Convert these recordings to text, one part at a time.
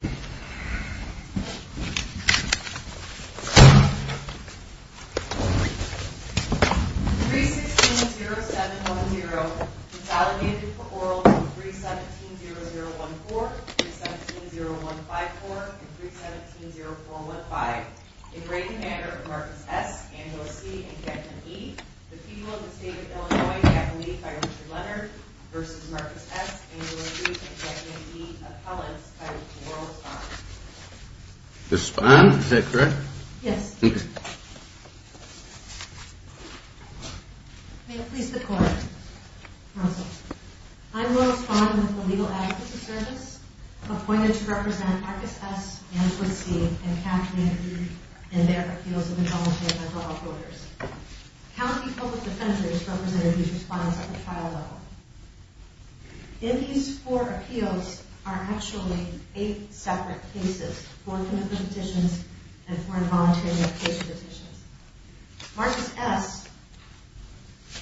The people of the state of Illinois have been made by Richard Leonard versus Marcus S. I'm going to respond with the legal advocacy service appointed to represent Marcus S, Andrew C, and Katharine D. and their appeals in the College of Environmental Affairs. In these four appeals are actually eight separate cases. Marcus S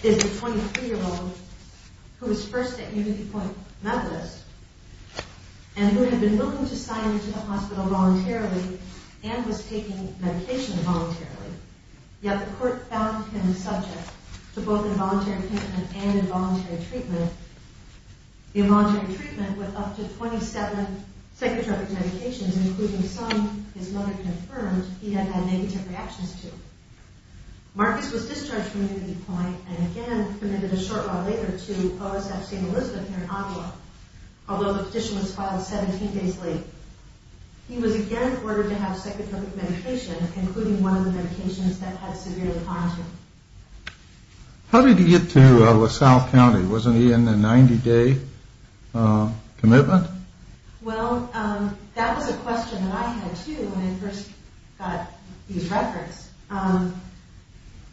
is a 23-year-old who was first at UnityPoint Medalist and who had been looking to sign into the hospital voluntarily and was taking medication voluntarily. Yet the court found him subject to both involuntary treatment and involuntary treatment. The involuntary treatment went up to 27 psychotropic medications, including some his mother confirmed he had had negative reactions to. Marcus was discharged from UnityPoint and again committed a short while later to OSF St. Elizabeth here in Ottawa, although the petition was filed 17 days late. He was again ordered to have psychotropic medication, including one of the medications that had severely harmed him. How did he get to LaSalle County? Wasn't he in a 90-day commitment? Well, that was a question that I had too when I first got these records.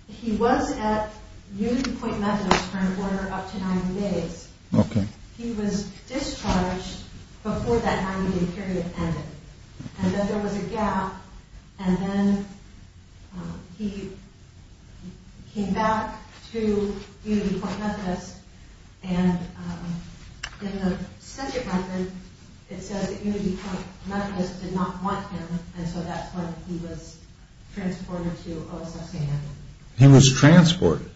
He was at UnityPoint Medalist for an order up to 90 days. He was discharged before that 90-day period ended. And then there was a gap and then he came back to UnityPoint Medalist and in the sentient record it says that UnityPoint Medalist did not want him and so that's when he was transported to OSF St. Elizabeth. He was transported?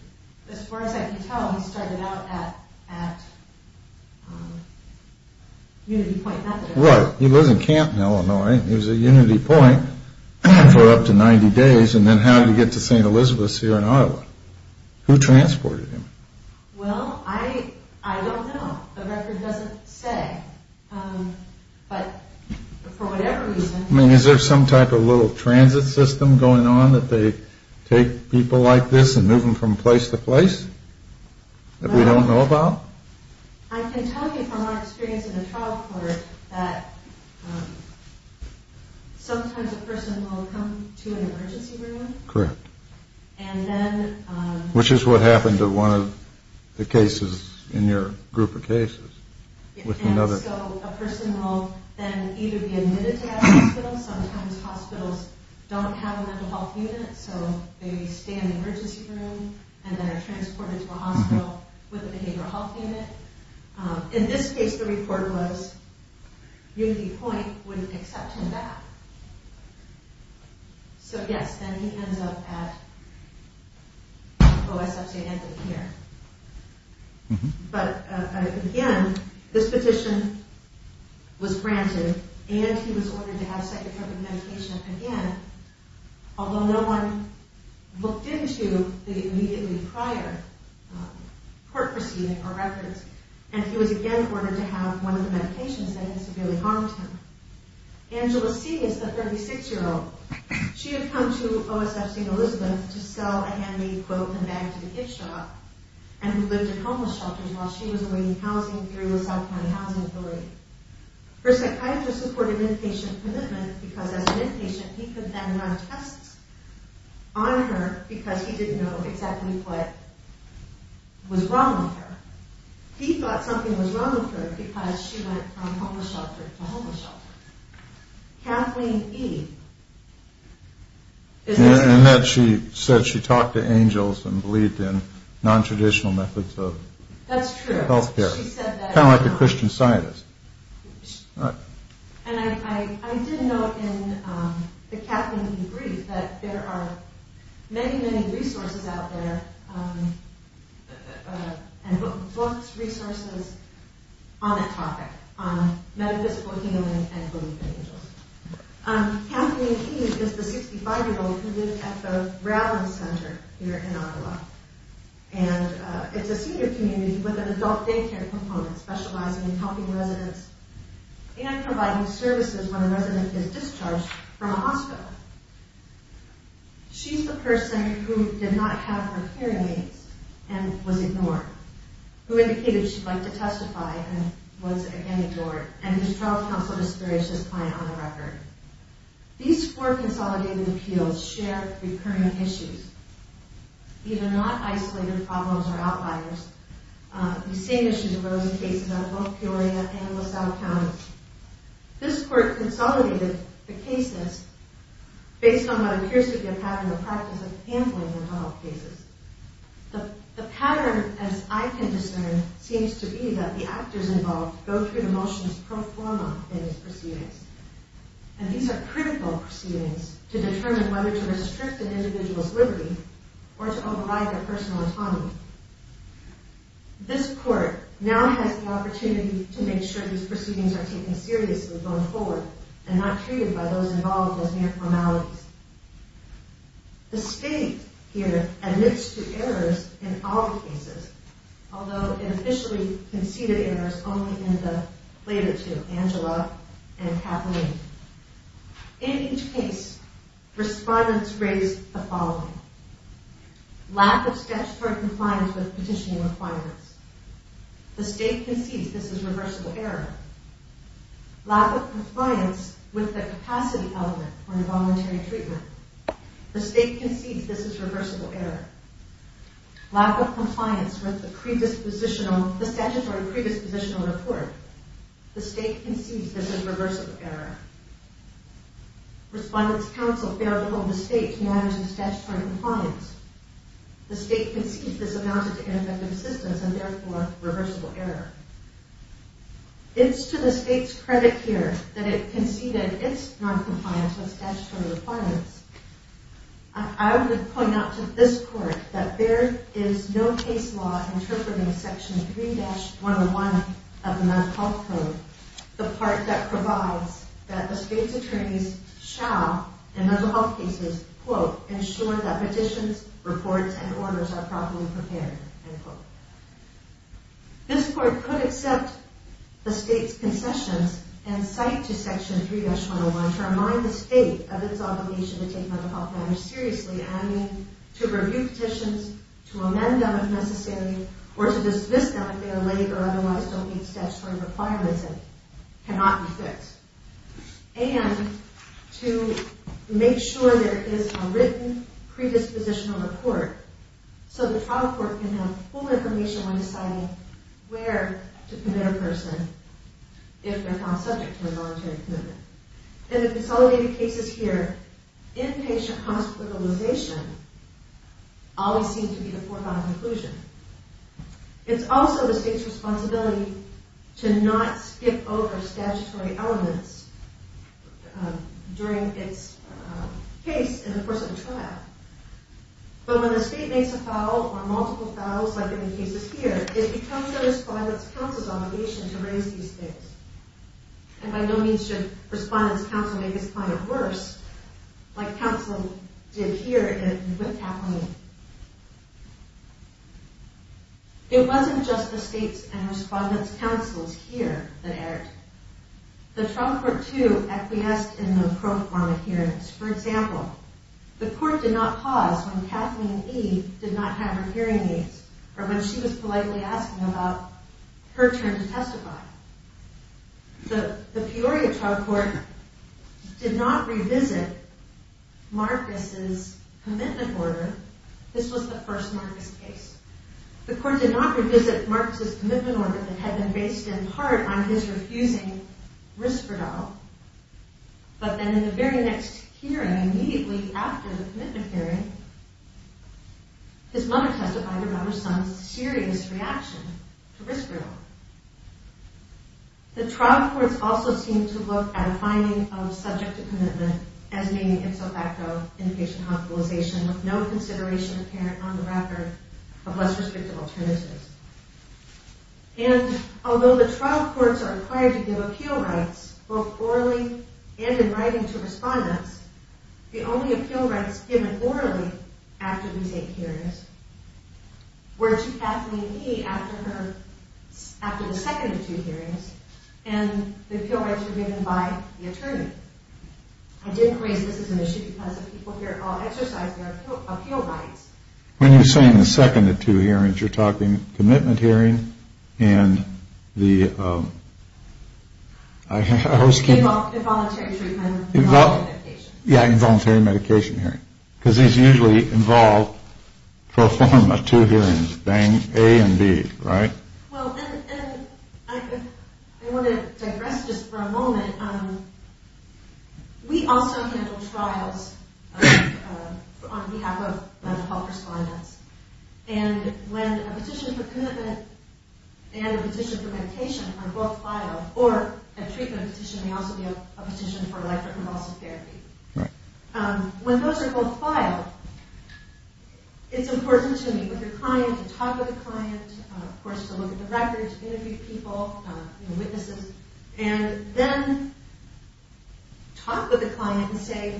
As far as I can tell, he started out at UnityPoint Medalist. Right. He was in Canton, Illinois. He was at UnityPoint for up to 90 days and then how did he get to St. Elizabeth here in Ottawa? Who transported him? Well, I don't know. The record doesn't say. But for whatever reason... I mean, is there some type of little transit system going on that they take people like this and move them from place to place that we don't know about? I can tell you from our experience in the trial court that sometimes a person will come to an emergency room. Correct. And then... Which is what happened to one of the cases in your group of cases. And so a person will then either be admitted to that hospital. Sometimes hospitals don't have a mental health unit so they stay in the emergency room and then are transported to a hospital with a behavioral health unit. In this case the report was UnityPoint wouldn't accept him back. So yes, then he ends up at OSF St. Anthony here. But again, this petition was granted and he was ordered to have psychotropic medication again. Although no one looked into the immediately prior court proceeding or records and he was again ordered to have one of the medications that had severely harmed him. Angela C. is a 36-year-old. She had come to OSF St. Elizabeth to sell a handmade quilt and bag to the Ipshaw and who lived at homeless shelters while she was awaiting housing through the South County Housing Authority. Her psychiatrist supported inpatient commitment because as an inpatient he could then run tests on her because he didn't know exactly what was wrong with her. He thought something was wrong with her because she went from homeless shelter to homeless shelter. Kathleen E. In that she said she talked to angels and believed in nontraditional methods of health care. That's true. Kind of like a Christian scientist. And I did note in the Kathleen E. brief that there are many, many resources out there and books, resources on that topic, on metaphysical healing and belief in angels. Kathleen E. is the 65-year-old who lived at the Raven Center here in Ottawa. And it's a senior community with an adult daycare component specializing in helping residents and providing services when a resident is discharged from a hospital. She's the person who did not have her hearing aids and was ignored, who indicated she'd like to testify and was again ignored, and whose trial counsel disparaged his client on the record. These four consolidated appeals share recurring issues. These are not isolated problems or outliers. These same issues arose in cases out of both Peoria and LaSalle counties. This court consolidated the cases based on what appears to be a pattern of practice of handling mental health cases. The pattern, as I can discern, seems to be that the actors involved go through the motions pro forma in these proceedings. And these are critical proceedings to determine whether to restrict an individual's liberty or to override their personal autonomy. This court now has the opportunity to make sure these proceedings are taken seriously going forward and not treated by those involved as mere formalities. The state here admits to errors in all cases, although it officially conceded errors only in the later two, Angela and Kathleen. In each case, respondents raised the following. Lack of statutory compliance with petitioning requirements. The state concedes this is reversible error. Lack of compliance with the capacity element for involuntary treatment. The state concedes this is reversible error. Lack of compliance with the statutory predispositional report. The state concedes this is reversible error. Respondents' counsel bear little mistake in managing statutory compliance. The state concedes this amounted to ineffective assistance and therefore reversible error. It's to the state's credit here that it conceded its noncompliance with statutory requirements. I would point out to this court that there is no case law interpreting Section 3-101 of the Mental Health Code, the part that provides that the state's attorneys shall, in mental health cases, quote, ensure that petitions, reports, and orders are properly prepared, end quote. This court could accept the state's concessions and cite to Section 3-101 to remind the state of its obligation to take mental health matters seriously, and I mean to review petitions, to amend them if necessary, or to dismiss them if they are laid or otherwise don't meet statutory requirements and cannot be fixed. And to make sure there is a written predispositional report so the trial court can have full information when deciding where to commit a person if they're found subject to a voluntary commitment. In the consolidated cases here, inpatient hospitalization always seems to be the foregone conclusion. It's also the state's responsibility to not skip over statutory elements during its case in the course of a trial. But when the state makes a foul, or multiple fouls like in the cases here, it becomes the Respondent's counsel's obligation to raise these things. And by no means should Respondent's counsel make this kind of worse, like counsel did here in Witt, California. It wasn't just the state's and Respondent's counsel's here that erred. The trial court, too, acquiesced in the pro forma hearings. For example, the court did not pause when Kathleen E. did not have her hearing aids, or when she was politely asking about her turn to testify. The Peoria trial court did not revisit Marcus's commitment order. This was the first Marcus case. The court did not revisit Marcus's commitment order that had been based in part on his refusing Risperdal. But then in the very next hearing, immediately after the commitment hearing, his mother testified about her son's serious reaction to Risperdal. The trial courts also seemed to look at a finding of subject to commitment as naming ipso facto inpatient hospitalization with no consideration apparent on the record of less restrictive alternatives. And although the trial courts are required to give appeal rights, both orally and in writing to Respondents, the only appeal rights given orally after these eight hearings were to Kathleen E. after the second of two hearings, and the appeal rights were given by the attorney. I didn't raise this as an issue because the people here all exercised their appeal rights. When you're saying the second of two hearings, you're talking commitment hearing and the... Involuntary treatment and involuntary medication. Yeah, involuntary medication hearing. Because these usually involve, for a form of two hearings, A and B, right? Well, and I want to digress just for a moment. We also handle trials on behalf of mental health Respondents, and when a petition for commitment and a petition for medication are both filed, or a treatment petition may also be a petition for electroconvulsive therapy. When those are both filed, it's important to me, with the client, to talk with the client, of course to look at the records, interview people, you know, witnesses, and then talk with the client and say,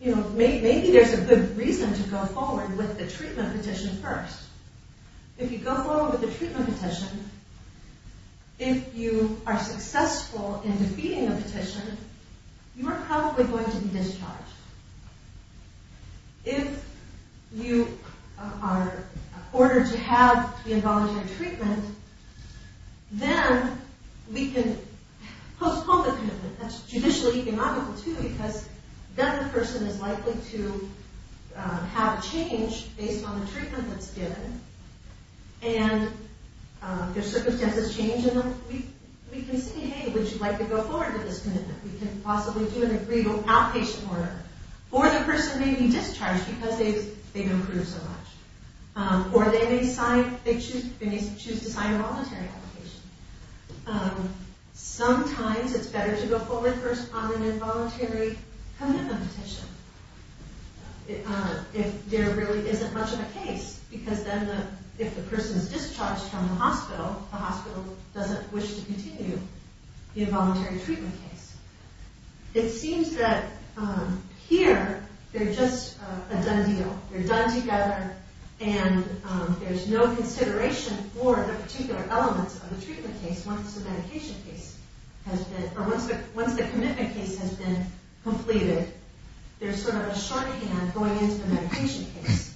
you know, maybe there's a good reason to go forward with the treatment petition first. If you go forward with the treatment petition, if you are successful in defeating the petition, you are probably going to be discharged. If you are ordered to have the involuntary treatment, then we can postpone the commitment. That's judicially economical, too, because then the person is likely to have a change based on the treatment that's given, and if circumstances change in them, we can say, hey, would you like to go forward with this commitment? We can possibly do an agreeable outpatient order. Or the person may be discharged because they've improved so much. Or they may choose to sign a voluntary application. Sometimes it's better to go forward first on an involuntary commitment petition if there really isn't much of a case, because then if the person is discharged from the hospital, the hospital doesn't wish to continue the involuntary treatment case. It seems that here, they're just a done deal. They're done together, and there's no consideration for the particular elements of the treatment case once the medication case has been, or once the commitment case has been completed. There's sort of a shorthand going into the medication case.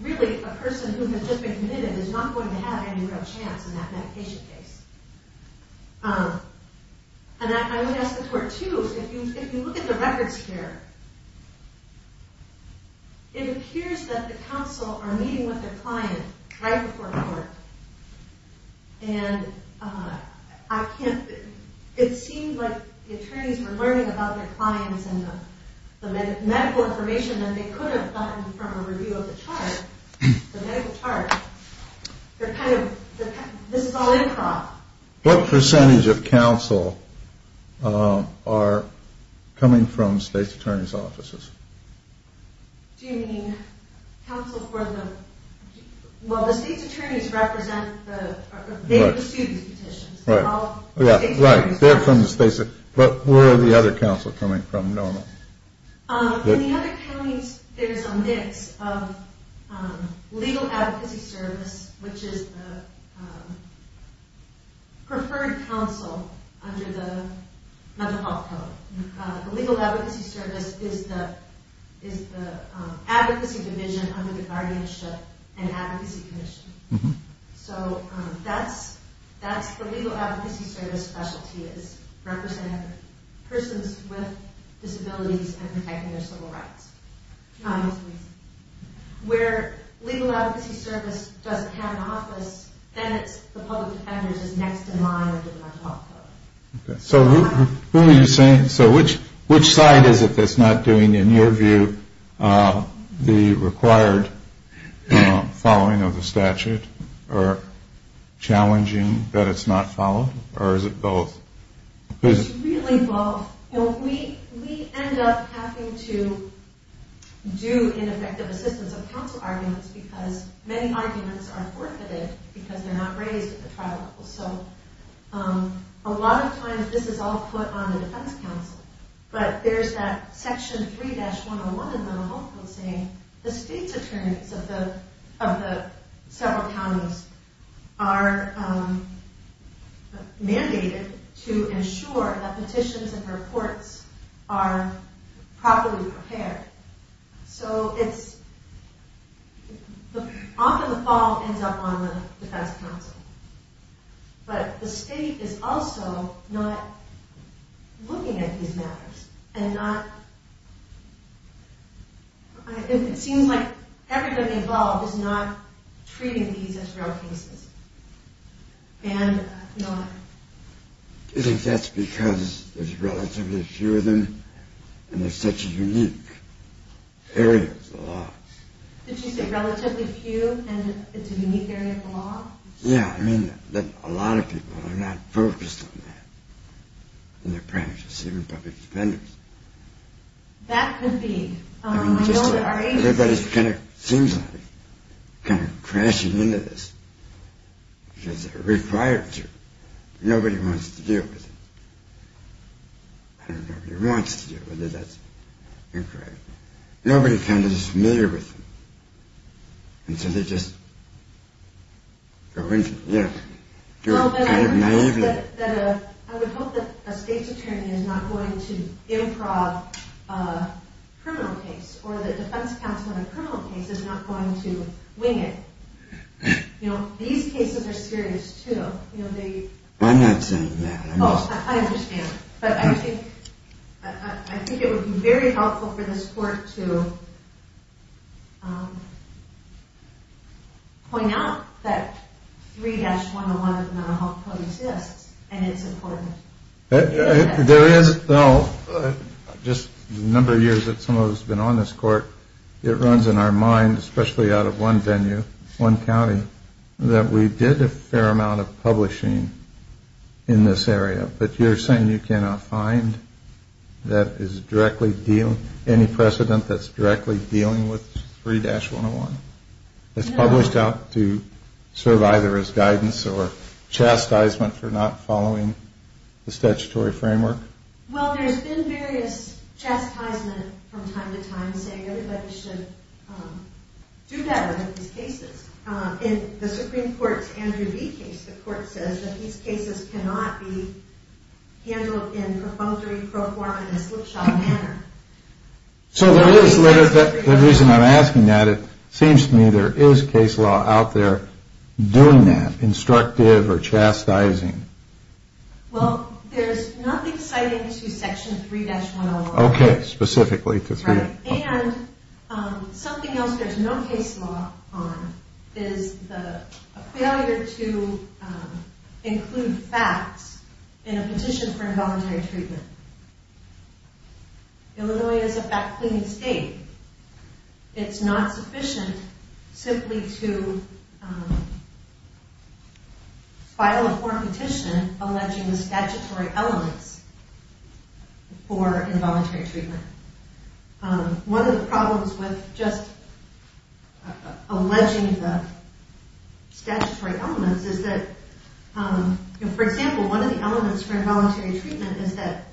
Really, a person who has just been committed is not going to have any real chance in that medication case. I would ask the court, too, if you look at the records here, it appears that the counsel are meeting with their client right before court. It seemed like the attorneys were learning about their clients and the medical information that they could have gotten from a review of the chart, the medical chart. They're kind of, this is all improv. What percentage of counsel are coming from the state's attorney's offices? Do you mean counsel for the, well, the state's attorneys represent the, they pursue these petitions. They're from the state's, but where are the other counsel coming from normally? In the other counties, there's a mix of legal advocacy service, which is the preferred counsel under the mental health code. The legal advocacy service is the advocacy division under the guardianship and advocacy commission. So that's the legal advocacy service specialty, is representing persons with disabilities and protecting their civil rights. Where legal advocacy service doesn't have an office, then it's the public defenders is next in line under the mental health code. So who are you saying, so which side is it that's not doing, in your view, the required following of the statute or challenging that it's not followed, or is it both? It's really both. We end up having to do ineffective assistance of counsel arguments because many arguments are forfeited because they're not raised at the trial level. So a lot of times this is all put on the defense counsel, but there's that section 3-101 in the mental health code saying the state's attorneys of the several counties are mandated to ensure that petitions and reports are properly prepared. So it's, often the fall ends up on the defense counsel. But the state is also not looking at these matters, and not, it seems like everybody involved is not treating these as real cases. And not... Do you think that's because there's relatively few of them, and there's such a unique area of the law? Did you say relatively few and it's a unique area of the law? Yeah, I mean that a lot of people are not focused on that in their practice, even public defenders. That could be. Everybody's kind of, seems like, kind of crashing into this because they're required to. Nobody wants to deal with it. I don't know if nobody wants to deal with it, that's incorrect. Nobody's kind of just familiar with it. And so they just go into it, you know, do it kind of naively. I would hope that a state's attorney is not going to improv a criminal case, or the defense counsel in a criminal case is not going to wing it. You know, these cases are serious too. I'm not saying that. Oh, I understand. But I think it would be very helpful for this court to point out that 3-101 of the mental health code exists, and it's important. There is, though, just the number of years that someone's been on this court, it runs in our mind, especially out of one venue, one county, that we did a fair amount of publishing in this area. But you're saying you cannot find that is directly dealing, any precedent that's directly dealing with 3-101? No. It's published out to serve either as guidance or chastisement for not following the statutory framework? Well, there's been various chastisement from time to time saying everybody should do better in these cases. In the Supreme Court's Andrew V. case, the court says that these cases cannot be handled in compulsory pro forma and a slipshod manner. So the reason I'm asking that, it seems to me there is case law out there doing that, instructive or chastising. Well, there's nothing citing to Section 3-101. Okay, specifically to 3-101. Right, and something else there's no case law on is a failure to include facts in a petition for involuntary treatment. Illinois is a fact-cleaning state. It's not sufficient simply to file a poor petition alleging the statutory elements for involuntary treatment. One of the problems with just alleging the statutory elements is that, for example, one of the elements for involuntary treatment is that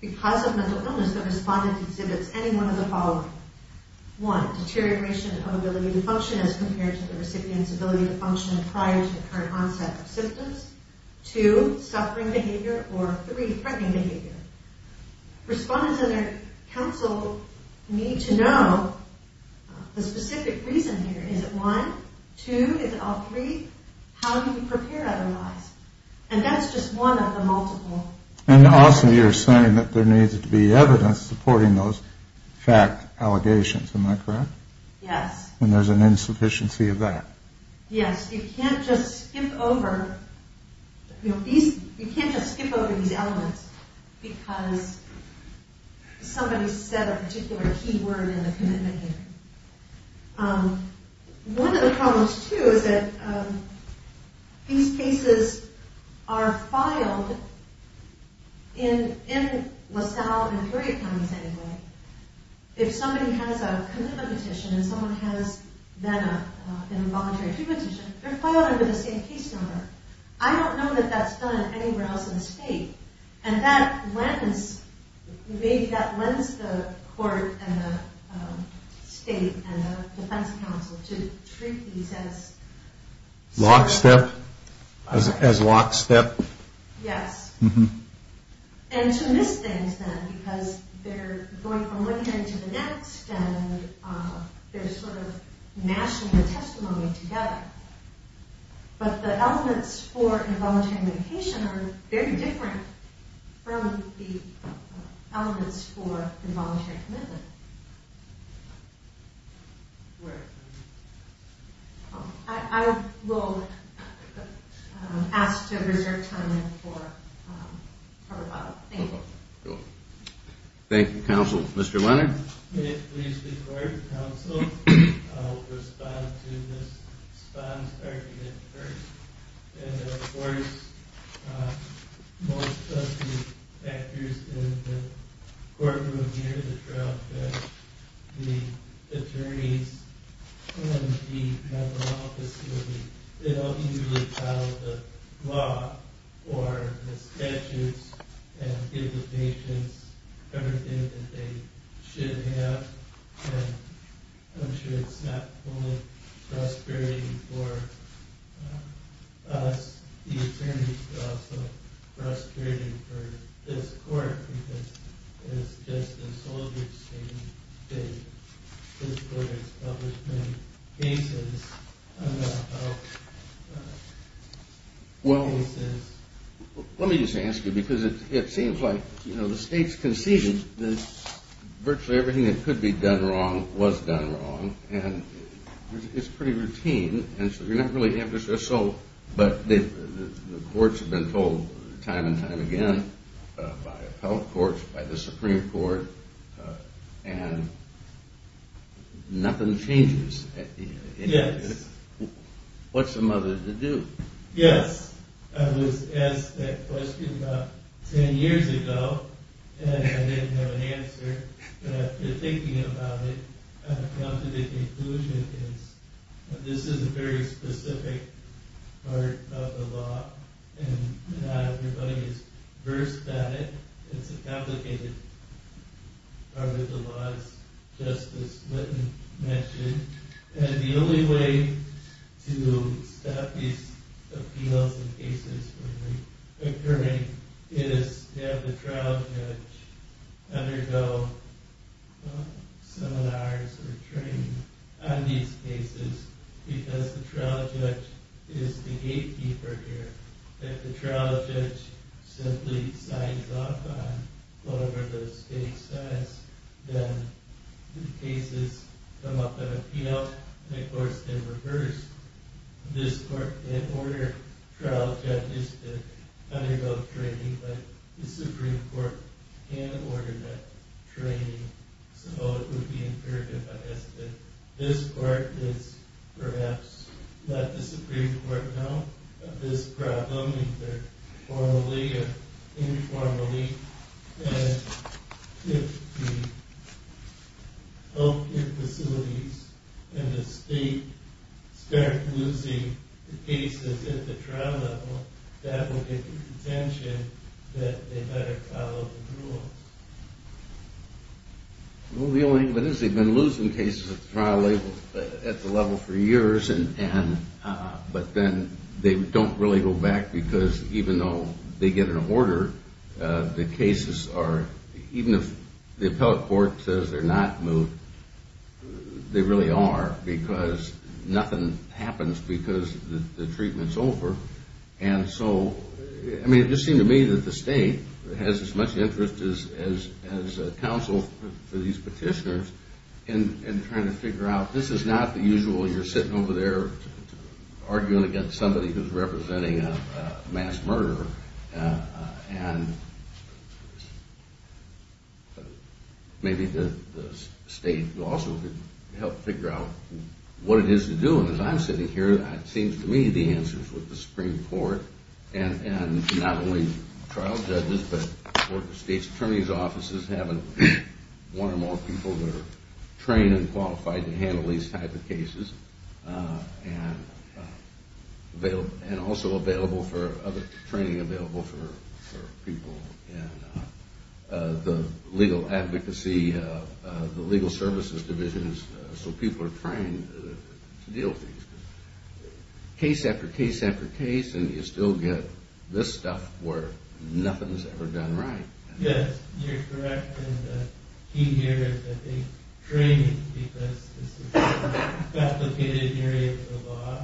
because of mental illness, the respondent exhibits any one of the following. One, deterioration of ability to function as compared to the recipient's ability to function prior to the current onset of symptoms. Two, suffering behavior. Or three, threatening behavior. Respondents and their counsel need to know the specific reason here. Is it one? Two? Is it all three? How do you prepare otherwise? And that's just one of the multiple. And also you're saying that there needs to be evidence supporting those fact allegations. Am I correct? Yes. And there's an insufficiency of that. Yes. You can't just skip over these elements because somebody said a particular key word in the commitment here. One of the problems, too, is that these cases are filed in LaSalle and three other counties anyway. If somebody has a commitment petition and someone has then an involuntary treatment petition, they're filed under the same case number. I don't know that that's done anywhere else in the state. And maybe that lends the court and the state and the defense counsel to treat these as... Lockstep? As lockstep? Yes. And to miss things then because they're going from one hearing to the next and they're sort of mashing the testimony together. But the elements for involuntary medication are very different from the elements for involuntary commitment. I will ask to reserve time for... Thank you. Thank you, counsel. Mr. Leonard? May it please the court, counsel, I will respond to this response argument first. And of course, most trustee actors in the courtroom hear the trial that the attorneys in the federal law facility, they don't usually follow the law or the statutes and give the patients everything that they should have. And I'm sure it's not only frustrating for us, the attorneys, but also frustrating for this court because it's just a soldier's case. This court has published many cases about how cases... Well, let me just ask you because it seems like the state's conceded that virtually everything that could be done wrong was done wrong and it's pretty routine. And so you're not really... But the courts have been told time and time again by appellate courts, by the Supreme Court, and nothing changes. Yes. What's the mother to do? Yes. I was asked that question about ten years ago and I didn't have an answer. But after thinking about it, I've come to the conclusion that this is a very specific part of the law and not everybody is versed at it. It's a complicated part of the law, as Justice Linton mentioned. And the only way to stop these appeals and cases from occurring is to have the trial judge undergo seminars or training on these cases because the trial judge is the gatekeeper here. If the trial judge simply signs off on whatever the state says, then the cases come up in appeal and, of course, in reverse. This court can order trial judges to undergo training, but the Supreme Court can't order that training. So it would be imperative, I guess, that this court is perhaps let the Supreme Court know of this problem either formally or informally and if the health care facilities and the state start losing the cases at the trial level, that will get the attention that they better follow the rules. Well, the only thing is they've been losing cases at the trial level for years, but then they don't really go back because even though they get an order, the cases are, even if the appellate court says they're not moved, they really are because nothing happens because the treatment's over. And so, I mean, it just seemed to me that the state has as much interest as counsel for these petitioners in trying to figure out this is not the usual you're sitting over there arguing against somebody who's representing a mass murderer and maybe the state also could help figure out what it is to do them. As I'm sitting here, it seems to me the answer is with the Supreme Court and not only trial judges but the state's attorney's offices having one or more people that are trained and qualified to handle these type of cases and also available for other training available for people in the legal advocacy, the legal services divisions so people are trained to deal with these. Case after case after case and you still get this stuff where nothing's ever done right. Yes, you're correct. And the key here is that they train because this is a complicated area of the law.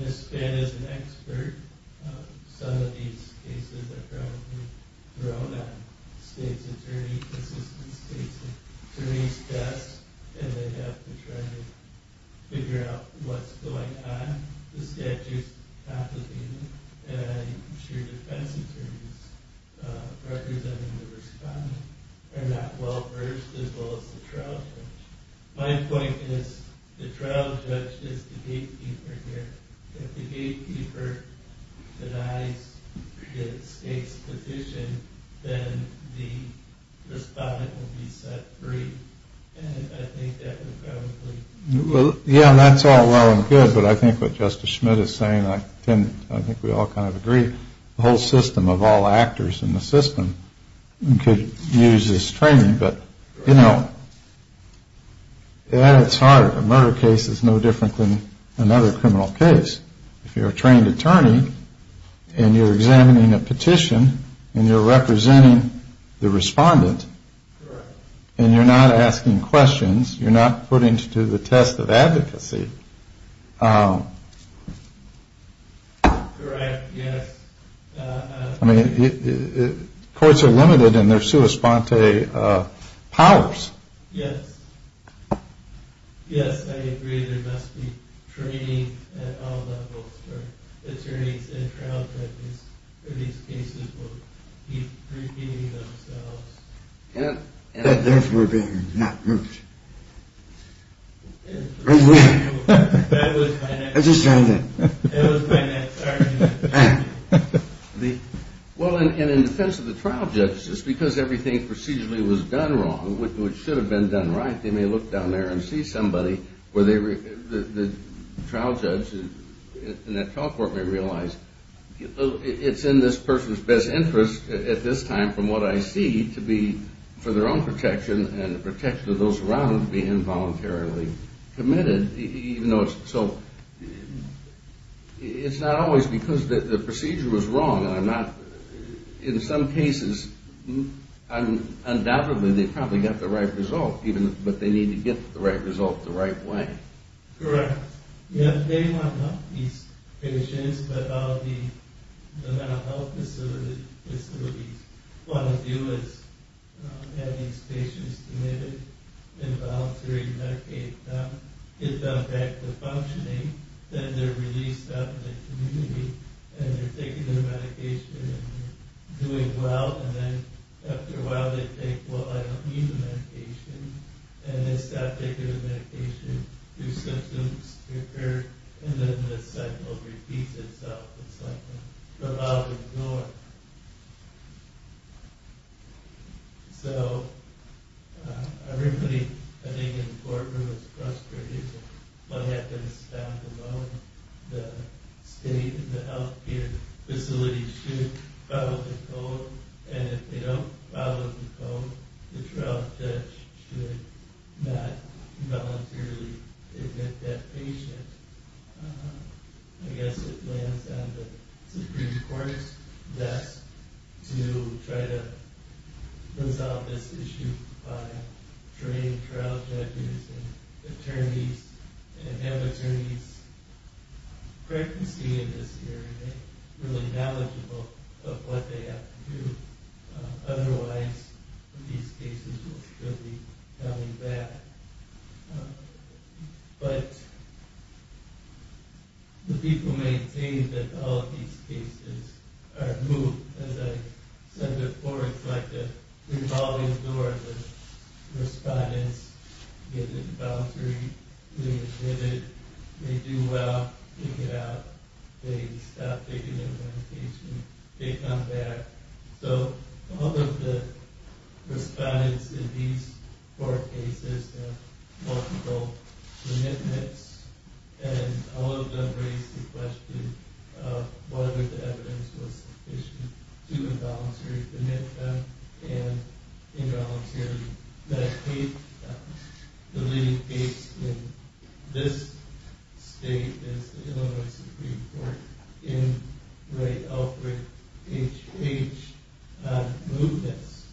Ms. Spann is an expert. Some of these cases are probably thrown at the state's attorney, consistent state's attorney's desk, and they have to try to figure out what's going on. The statute is complicated and I'm sure defense attorneys representing the respondent are not well versed as well as the trial judge. My point is the trial judge is the gatekeeper here. If the gatekeeper denies the state's position, then the respondent will be set free. And I think that would probably... Yeah, that's all well and good, but I think what Justice Schmidt is saying, I think we all kind of agree, the whole system of all actors in the system could use this training. But, you know, it's hard. A murder case is no different than another criminal case. If you're a trained attorney and you're examining a petition and you're representing the respondent and you're not asking questions, you're not putting to the test of advocacy. Correct, yes. Courts are limited in their sua sponte powers. Yes. Yes, I agree, there must be training at all levels for attorneys and trial judges in these cases will keep repeating themselves. And therefore being not moved. That was my next argument. Well, and in defense of the trial judge, just because everything procedurally was done wrong, which should have been done right, they may look down there and see somebody where the trial judge and that trial court may realize it's in this person's best interest at this time from what I see to be for their own protection and the protection of those around them to be involuntarily committed. So it's not always because the procedure was wrong. In some cases, undoubtedly they probably got the right result, but they need to get the right result the right way. Correct. Yes, they want to help these patients, but all the mental health facilities want to do is have these patients committed, involuntarily medicate them, get them back to functioning, then they're released out in the community and they're taking their medication and doing well, and then after a while they think, well, I don't need the medication, and they stop taking the medication. New symptoms occur, and then this cycle repeats itself. It's like a revolving door. So everybody, I think, in the courtroom is frustrated. What happens down the road? And if they don't follow the code, the trial judge should not voluntarily admit that patient. I guess it lands on the Supreme Court's desk to try to resolve this issue by training trial judges and attorneys and have attorneys frequency in this area, really knowledgeable of what they have to do. Otherwise, these cases will still be coming back. But the people maintain that all of these cases are moved, as I said before, it's like a revolving door. Respondents get involuntarily admitted, they do well, they get out, they stop taking their medication, they come back. So all of the respondents in these four cases have multiple commitments, and all of them raise the question of whether the evidence was sufficient to involuntarily admit them and involuntarily medicate them. The leading case in this state is the Illinois Supreme Court in Ray Alfred H. H. on moveness.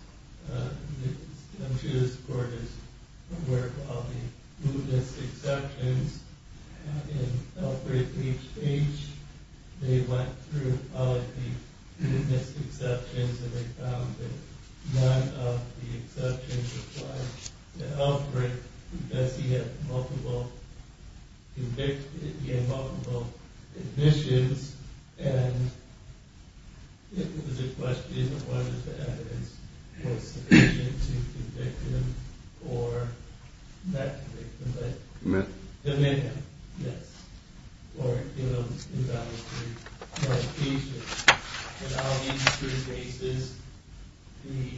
I'm sure this court is aware of all the moveness exceptions in Alfred H. H. They went through all of the moveness exceptions and they found that none of the exceptions apply to Alfred because he had multiple convictions, he had multiple admissions. And it was a question of whether the evidence was sufficient to convict him or not convict him, but admit him. Or give him involuntary medication. In all of these three cases, the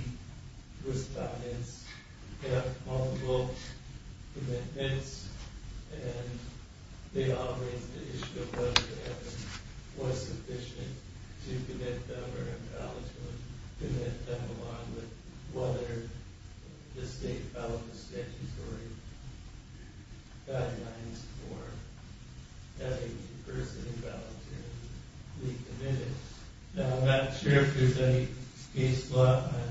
respondents have multiple commitments and they all raise the issue of whether the evidence was sufficient to commit them or involuntarily commit them along with whether the state filed a statutory guidelines for having a person involuntarily be committed. Now I'm not sure if there's any case law on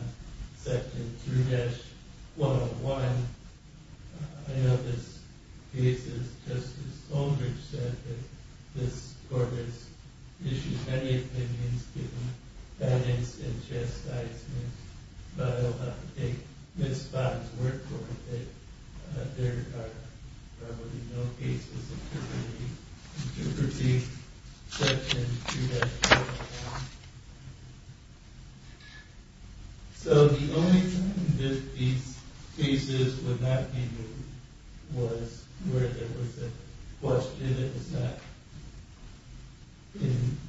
section 3-101. I know this case, as Justice Aldrich said, that this court has issued many opinions giving evidence in chastisement, but I don't have to take Ms. Bond's word for it that there are probably no cases of criminally intrusive exception to that law. So the only time that these cases would not be moved was where there was a question that was not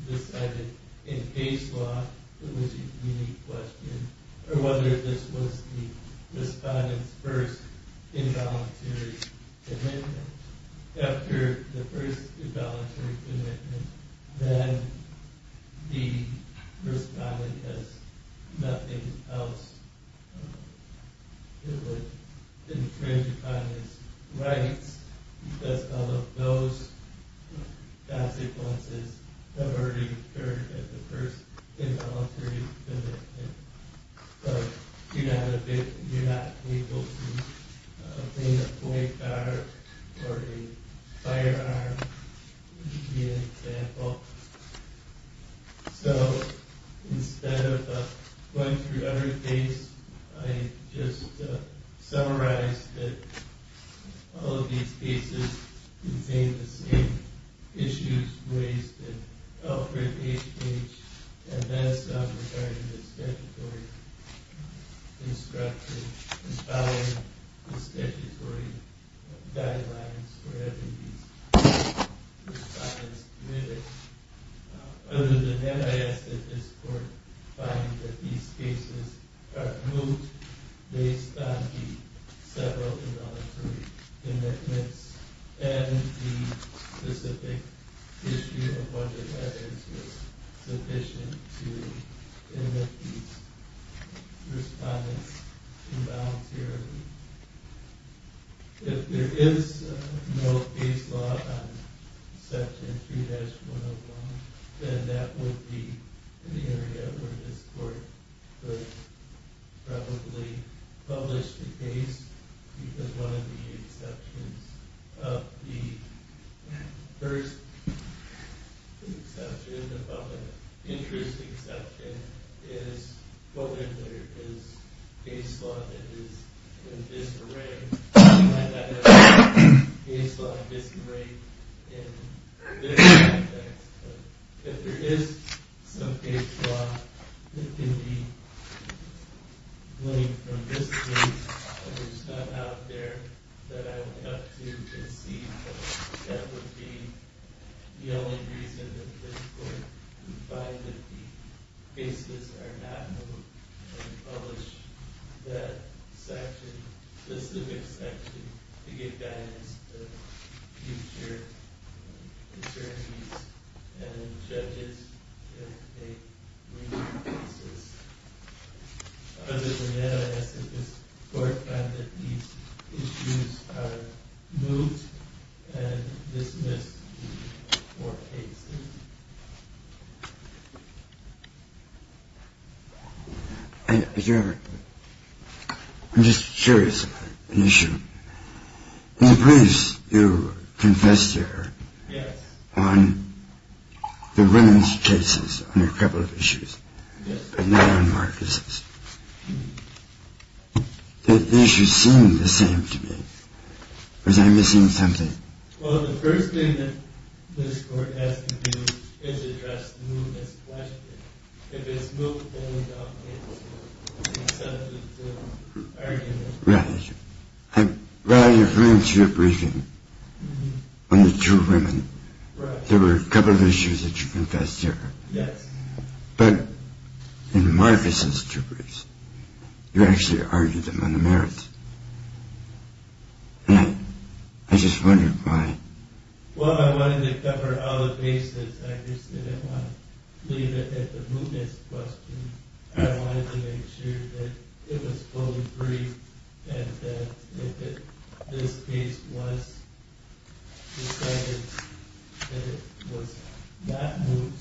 decided in case law. It was a unique question. Or whether this was the respondents' first involuntary commitment. After the first involuntary commitment, then the respondent has nothing else to infringe upon his rights because all of those consequences have already occurred at the first involuntary commitment. But you're not able to obtain a boycott or a firearm, to give you an example. So instead of going through every case, I just summarized that all of these cases contain the same issues raised in Alfred H. H. and then some regarding the statutory instructions and following the statutory guidelines for having these respondents committed. Other than that, I ask that this court find that these cases are moved based on the several involuntary commitments and the specific issue of whether that is sufficient to admit these respondents involuntarily. If there is no case law on Section 3-101, then that would be an area where this court would probably publish the case because one of the exceptions of the first exception, the public interest exception, is if there is case law that is in disarray. And I don't mean case law in disarray in this context. If there is some case law that could be linked from this case, but it's not out there that I would have to concede, that would be the only reason that this court would find that the cases are not moved and publish that section, the specific section, to give guidance to future attorneys and judges if they remove cases. Other than that, I ask that this court find that these issues are moved and dismissed in all four cases. I'm just curious about an issue. In the previous, you confessed to her on the women's cases on a couple of issues, but not on Marcus's. The issues seemed the same to me. Was I missing something? Well, the first thing that this court has to do is address the movement's question. If it's moved, then we don't need to accept it as an argument. Right. Well, I agree with your briefing on the two women. There were a couple of issues that you confessed to her. Yes. But in Marcus's two briefs, you actually argued them on the merits. And I just wondered why. Well, I wanted to cover all the bases. I just didn't want to leave it at the movement's question. I wanted to make sure that it was fully free and that this case was decided that it was not moved.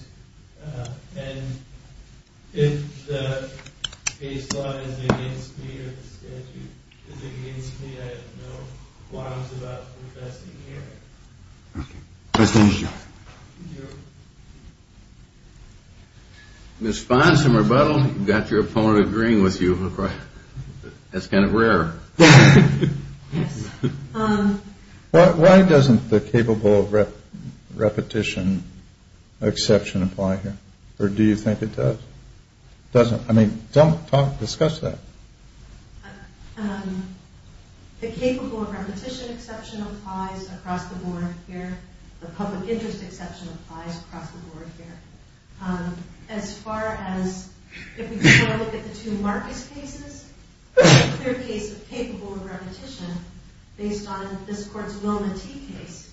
And if the case law is against me or the statute is against me, I have no qualms about confessing here. Okay. Questions? Thank you. Ms. Fonz, some rebuttal. You've got your opponent agreeing with you. That's kind of rare. Yes. Why doesn't the capable of repetition exception apply here? Or do you think it does? I mean, discuss that. The capable of repetition exception applies across the board here. The public interest exception applies across the board here. As far as if we look at the two Marcus cases, there's a clear case of capable of repetition based on this court's Wilma T case.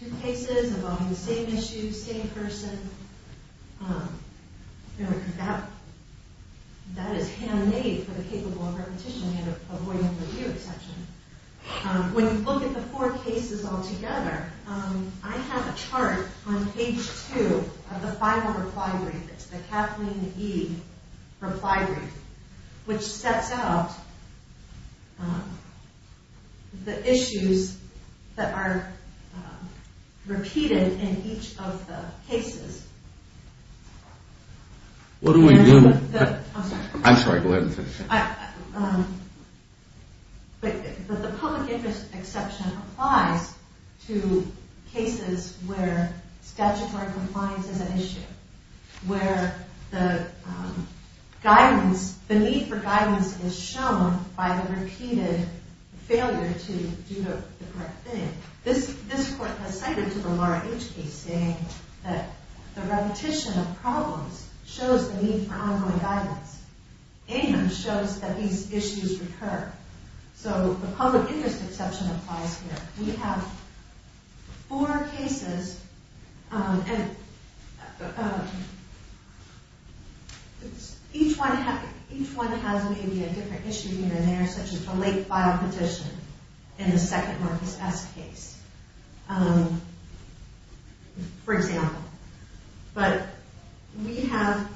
Two cases involving the same issue, same person. That is handmade for the capable of repetition. We have a Voight-Overdue exception. When you look at the four cases altogether, I have a chart on page two of the final reply brief. It's the Kathleen E. reply brief, which sets out the issues that are repeated in each of the cases. What are we doing? I'm sorry. Go ahead. But the public interest exception applies to cases where statutory compliance is an issue, where the need for guidance is shown by the repeated failure to do the correct thing. This court has cited to the Laura H case saying that the repetition of problems shows the need for ongoing guidance and shows that these issues recur. So the public interest exception applies here. We have four cases, and each one has maybe a different issue here and there, such as the late file petition in the second Marcus S case, for example. But we have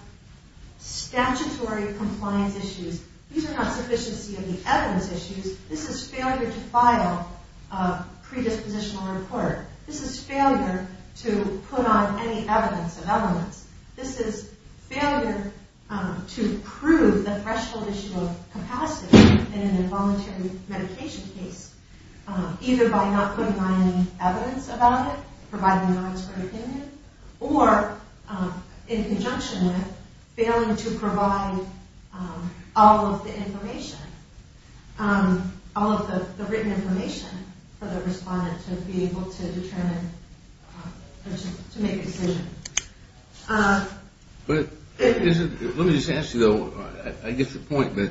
statutory compliance issues. These are not sufficiency of the evidence issues. This is failure to file a predispositional report. This is failure to put on any evidence of evidence. This is failure to prove the threshold issue of capacity in a voluntary medication case, either by not putting on any evidence about it, providing a non-expert opinion, or in conjunction with failing to provide all of the information, all of the written information for the respondent to be able to determine or to make a decision. Let me just ask you, though. I get your point, but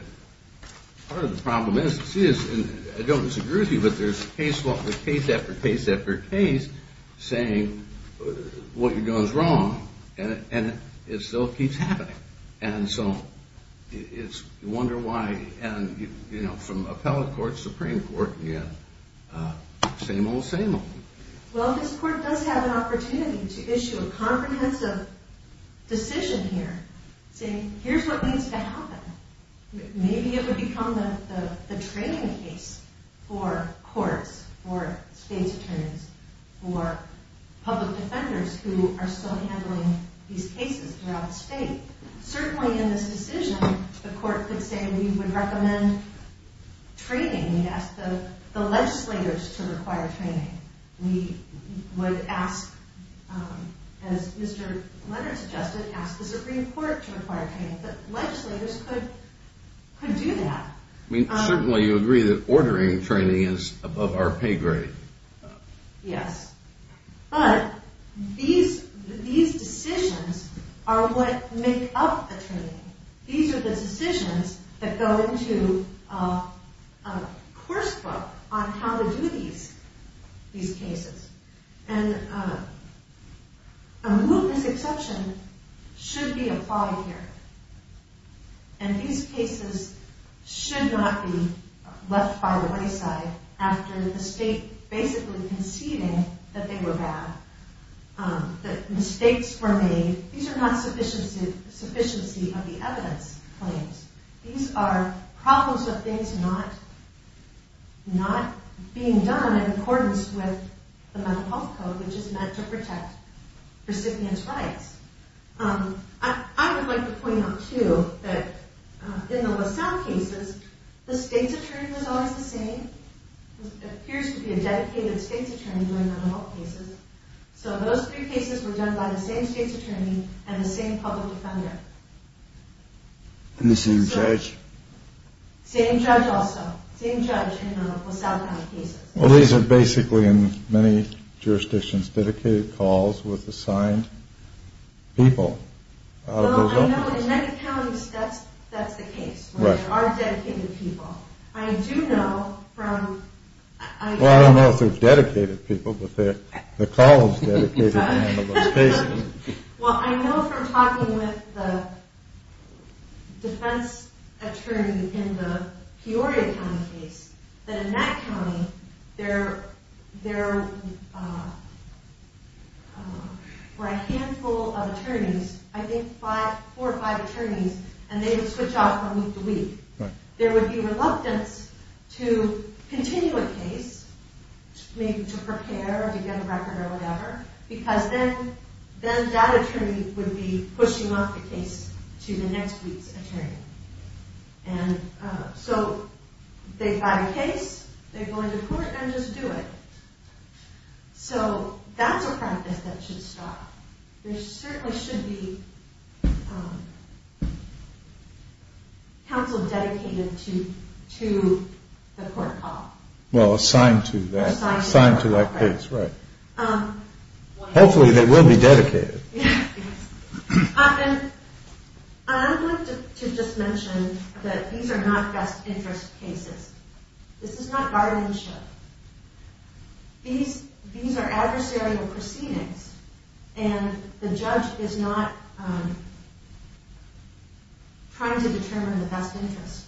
part of the problem is, I don't disagree with you, but there's case after case after case saying what you're doing is wrong, and it still keeps happening. So you wonder why. From appellate court to Supreme Court, same old, same old. Well, this court does have an opportunity to issue a comprehensive decision here, saying here's what needs to happen. Maybe it would become the training case for courts, for state's attorneys, for public defenders who are still handling these cases throughout the state. Certainly in this decision, the court could say we would recommend training. We'd ask the legislators to require training. We would ask, as Mr. Leonard suggested, ask the Supreme Court to require training. But legislators could do that. I mean, certainly you agree that ordering training is above our pay grade. Yes. But these decisions are what make up the training. These are the decisions that go into a course book on how to do these cases. And a moot misacception should be applied here. And these cases should not be left by the wayside after the state basically conceding that they were bad, that mistakes were made. These are not sufficiency of the evidence claims. These are problems of things not being done in accordance with the Mental Health Code, which is meant to protect recipients' rights. I would like to point out, too, that in the Lausanne cases, the state's attorney was always the same. There appears to be a dedicated state's attorney during mental health cases. So those three cases were done by the same state's attorney and the same public defender. And the same judge. Same judge also. Same judge in the Lausanne County cases. Well, these are basically, in many jurisdictions, dedicated calls with assigned people. Well, I know in many counties that's the case, which are dedicated people. I do know from... Well, I don't know if they're dedicated people, but the call is dedicated to one of those cases. Well, I know from talking with the defense attorney in the Peoria County case that in that county there were a handful of attorneys, I think four or five attorneys, and they would switch off from week to week. There would be reluctance to continue a case, maybe to prepare or to get a record or whatever, because then that attorney would be pushing off the case to the next week's attorney. And so they buy the case, they go into court, and just do it. So that's a practice that should stop. There certainly should be counsel dedicated to the court call. Well, assigned to that case, right. Hopefully they will be dedicated. And I'd like to just mention that these are not best interest cases. This is not guardianship. These are adversarial proceedings, and the judge is not trying to determine the best interest.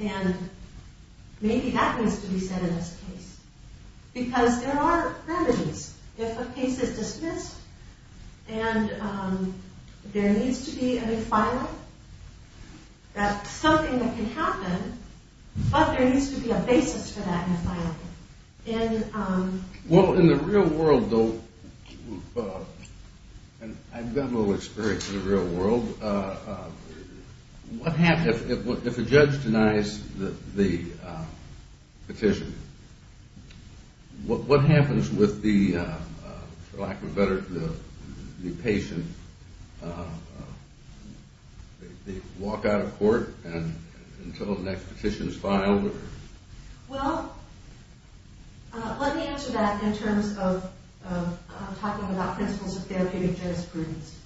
And maybe that needs to be said in this case. Because there are remedies. If a case is dismissed, and there needs to be a refinery, that's something that can happen, but there needs to be a basis for that refinery. Well, in the real world, though, and I've got a little experience in the real world, if a judge denies the petition, what happens with the, for lack of a better term, the patient? They walk out of court until the next petition is filed? Well, let me answer that in terms of talking about principles of therapeutic jurisprudence.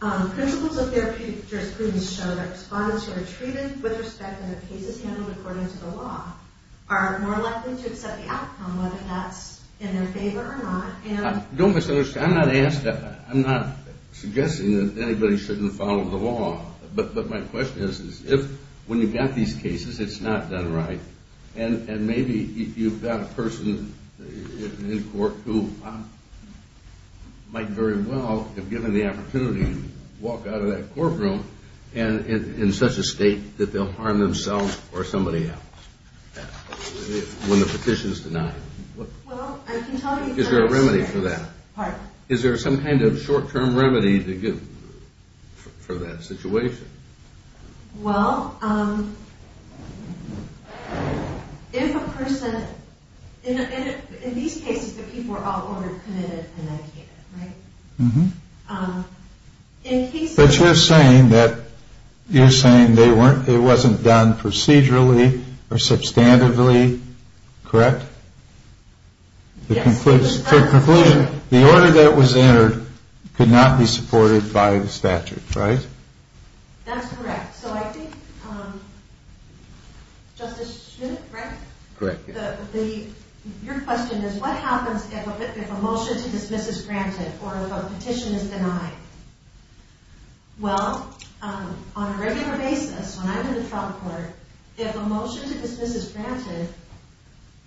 Principles of therapeutic jurisprudence show that respondents who are treated with respect to the cases handled according to the law are more likely to accept the outcome, whether that's in their favor or not. Don't misunderstand. I'm not suggesting that anybody shouldn't follow the law, but my question is, if when you've got these cases, it's not done right, and maybe you've got a person in court who might very well have given the opportunity to walk out of that courtroom in such a state that they'll harm themselves or somebody else when the petition is denied. Is there a remedy for that? Pardon? Is there some kind of short-term remedy to give for that situation? Well, if a person, in these cases, the people are all ordered, committed, and medicated, right? But you're saying that it wasn't done procedurally or substantively, correct? Yes. So in conclusion, the order that was entered could not be supported by the statute, right? That's correct. So I think, Justice Schmidt, correct? Correct. Your question is, what happens if a motion to dismiss is granted or if a petition is denied? Well, on a regular basis, when I'm in the trial court, if a motion to dismiss is granted,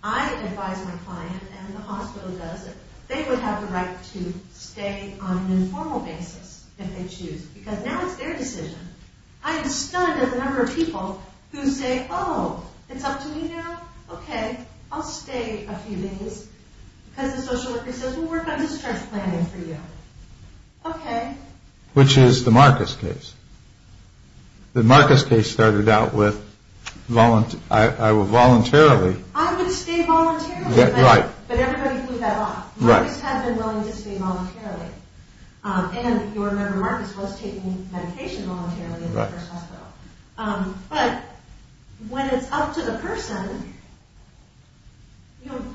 I advise my client, and the hospital does it, they would have the right to stay on an informal basis if they choose, because now it's their decision. I am stunned at the number of people who say, oh, it's up to me now? Okay, I'll stay a few days. Because the social worker says, well, we're kind of just transplanting for you. Okay. Which is the Marcus case. The Marcus case started out with, I will voluntarily... I would stay voluntarily. Right. But everybody blew that off. Marcus had been willing to stay voluntarily. And your member Marcus was taking medication voluntarily at the first hospital. Right. But when it's up to the person,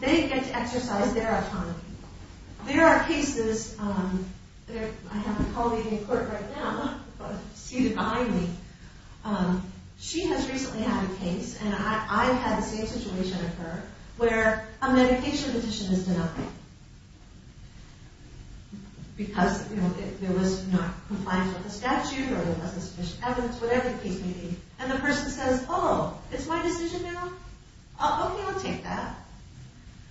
they get to exercise their autonomy. There are cases... I have a colleague in court right now, seated behind me. She has recently had a case, and I've had the same situation occur, where a medication petition is denied. Because there was not compliance with the statute, or there wasn't sufficient evidence, whatever the case may be. And the person says, oh, it's my decision now? Okay, I'll take that.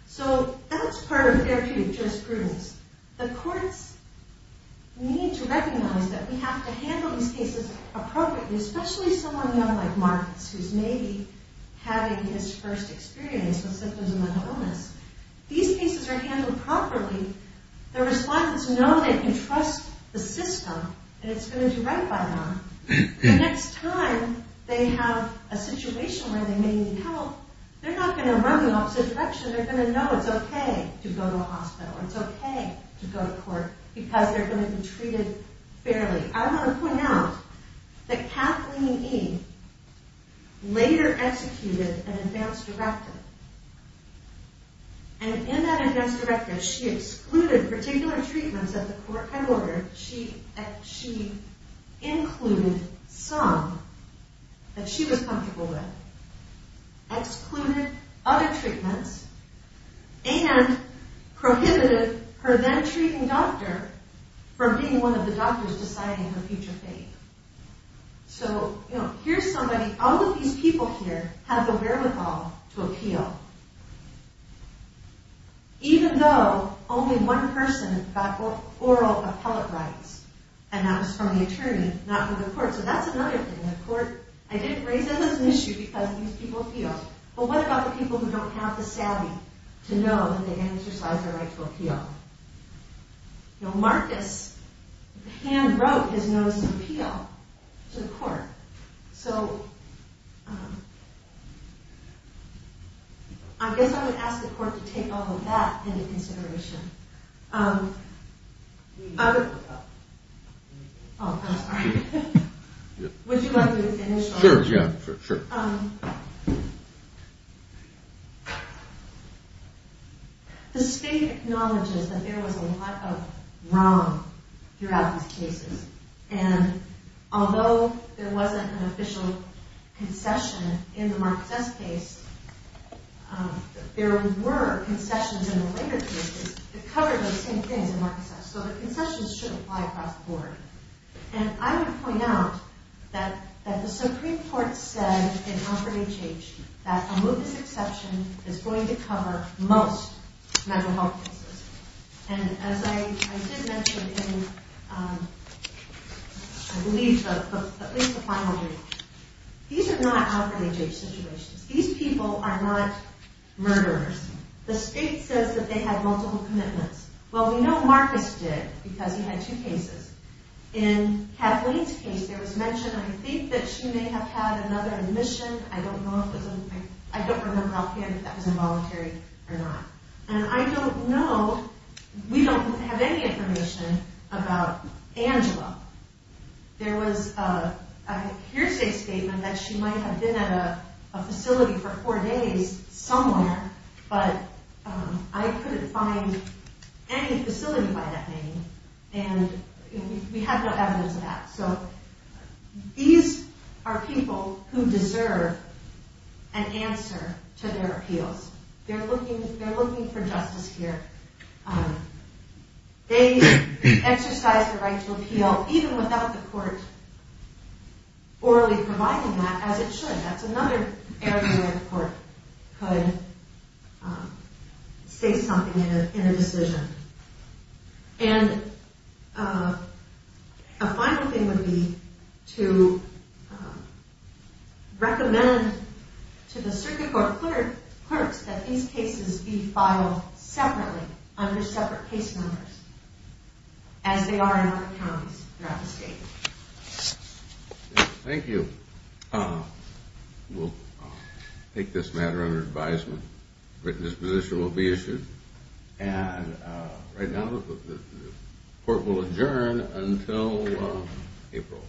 So that's part of therapeutic jurisprudence. The courts need to recognize that we have to handle these cases appropriately, especially someone young like Marcus, who's maybe having his first experience with symptoms of mental illness. These cases are handled properly. The respondents know they can trust the system, and it's going to do right by them. The next time they have a situation where they may need help, they're not going to run the opposite direction. They're going to know it's okay to go to a hospital, or it's okay to go to court, because they're going to be treated fairly. I want to point out that Kathleen E. later executed an advance directive. And in that advance directive, she excluded particular treatments that the court had ordered. She included some that she was comfortable with, excluded other treatments, and prohibited her then-treating doctor from being one of the doctors deciding her future fate. So, you know, here's somebody, all of these people here have the wherewithal to appeal. Even though only one person got oral appellate rights, and that was from the attorney, not from the court. So that's another thing. The court, I didn't raise that as an issue because these people appealed. But what about the people who don't have the savvy to know that they can exercise their right to appeal? Marcus hand-wrote his notice of appeal to the court. So I guess I would ask the court to take all of that into consideration. Oh, I'm sorry. Would you like me to finish? Sure, yeah, sure, sure. The state acknowledges that there was a lot of wrong throughout these cases. And although there wasn't an official concession in the Marcus S. case, there were concessions in the later cases that covered those same things in Marcus S. So the concessions shouldn't fly across the board. And I would point out that the Supreme Court said in Alford H.H. that a MOVES exception is going to cover most mental health cases. And as I did mention in, I believe, at least the final reading, these are not Alford H.H. situations. These people are not murderers. The state says that they had multiple commitments. Well, we know Marcus did because he had two cases. In Kathleen's case, there was mention, I think, that she may have had another admission. I don't remember offhand if that was involuntary or not. And I don't know, we don't have any information about Angela. There was a hearsay statement that she might have been at a facility for four days somewhere, but I couldn't find any facility by that name. And we have no evidence of that. So these are people who deserve an answer to their appeals. They're looking for justice here. They exercise the right to appeal, even without the court orally providing that, as it should. That's another area where the court could say something in a decision. And a final thing would be to recommend to the circuit court clerks that these cases be filed separately under separate case numbers, as they are in other counties throughout the state. Thank you. We'll take this matter under advisement. A written disposition will be issued. And right now, the court will adjourn until April.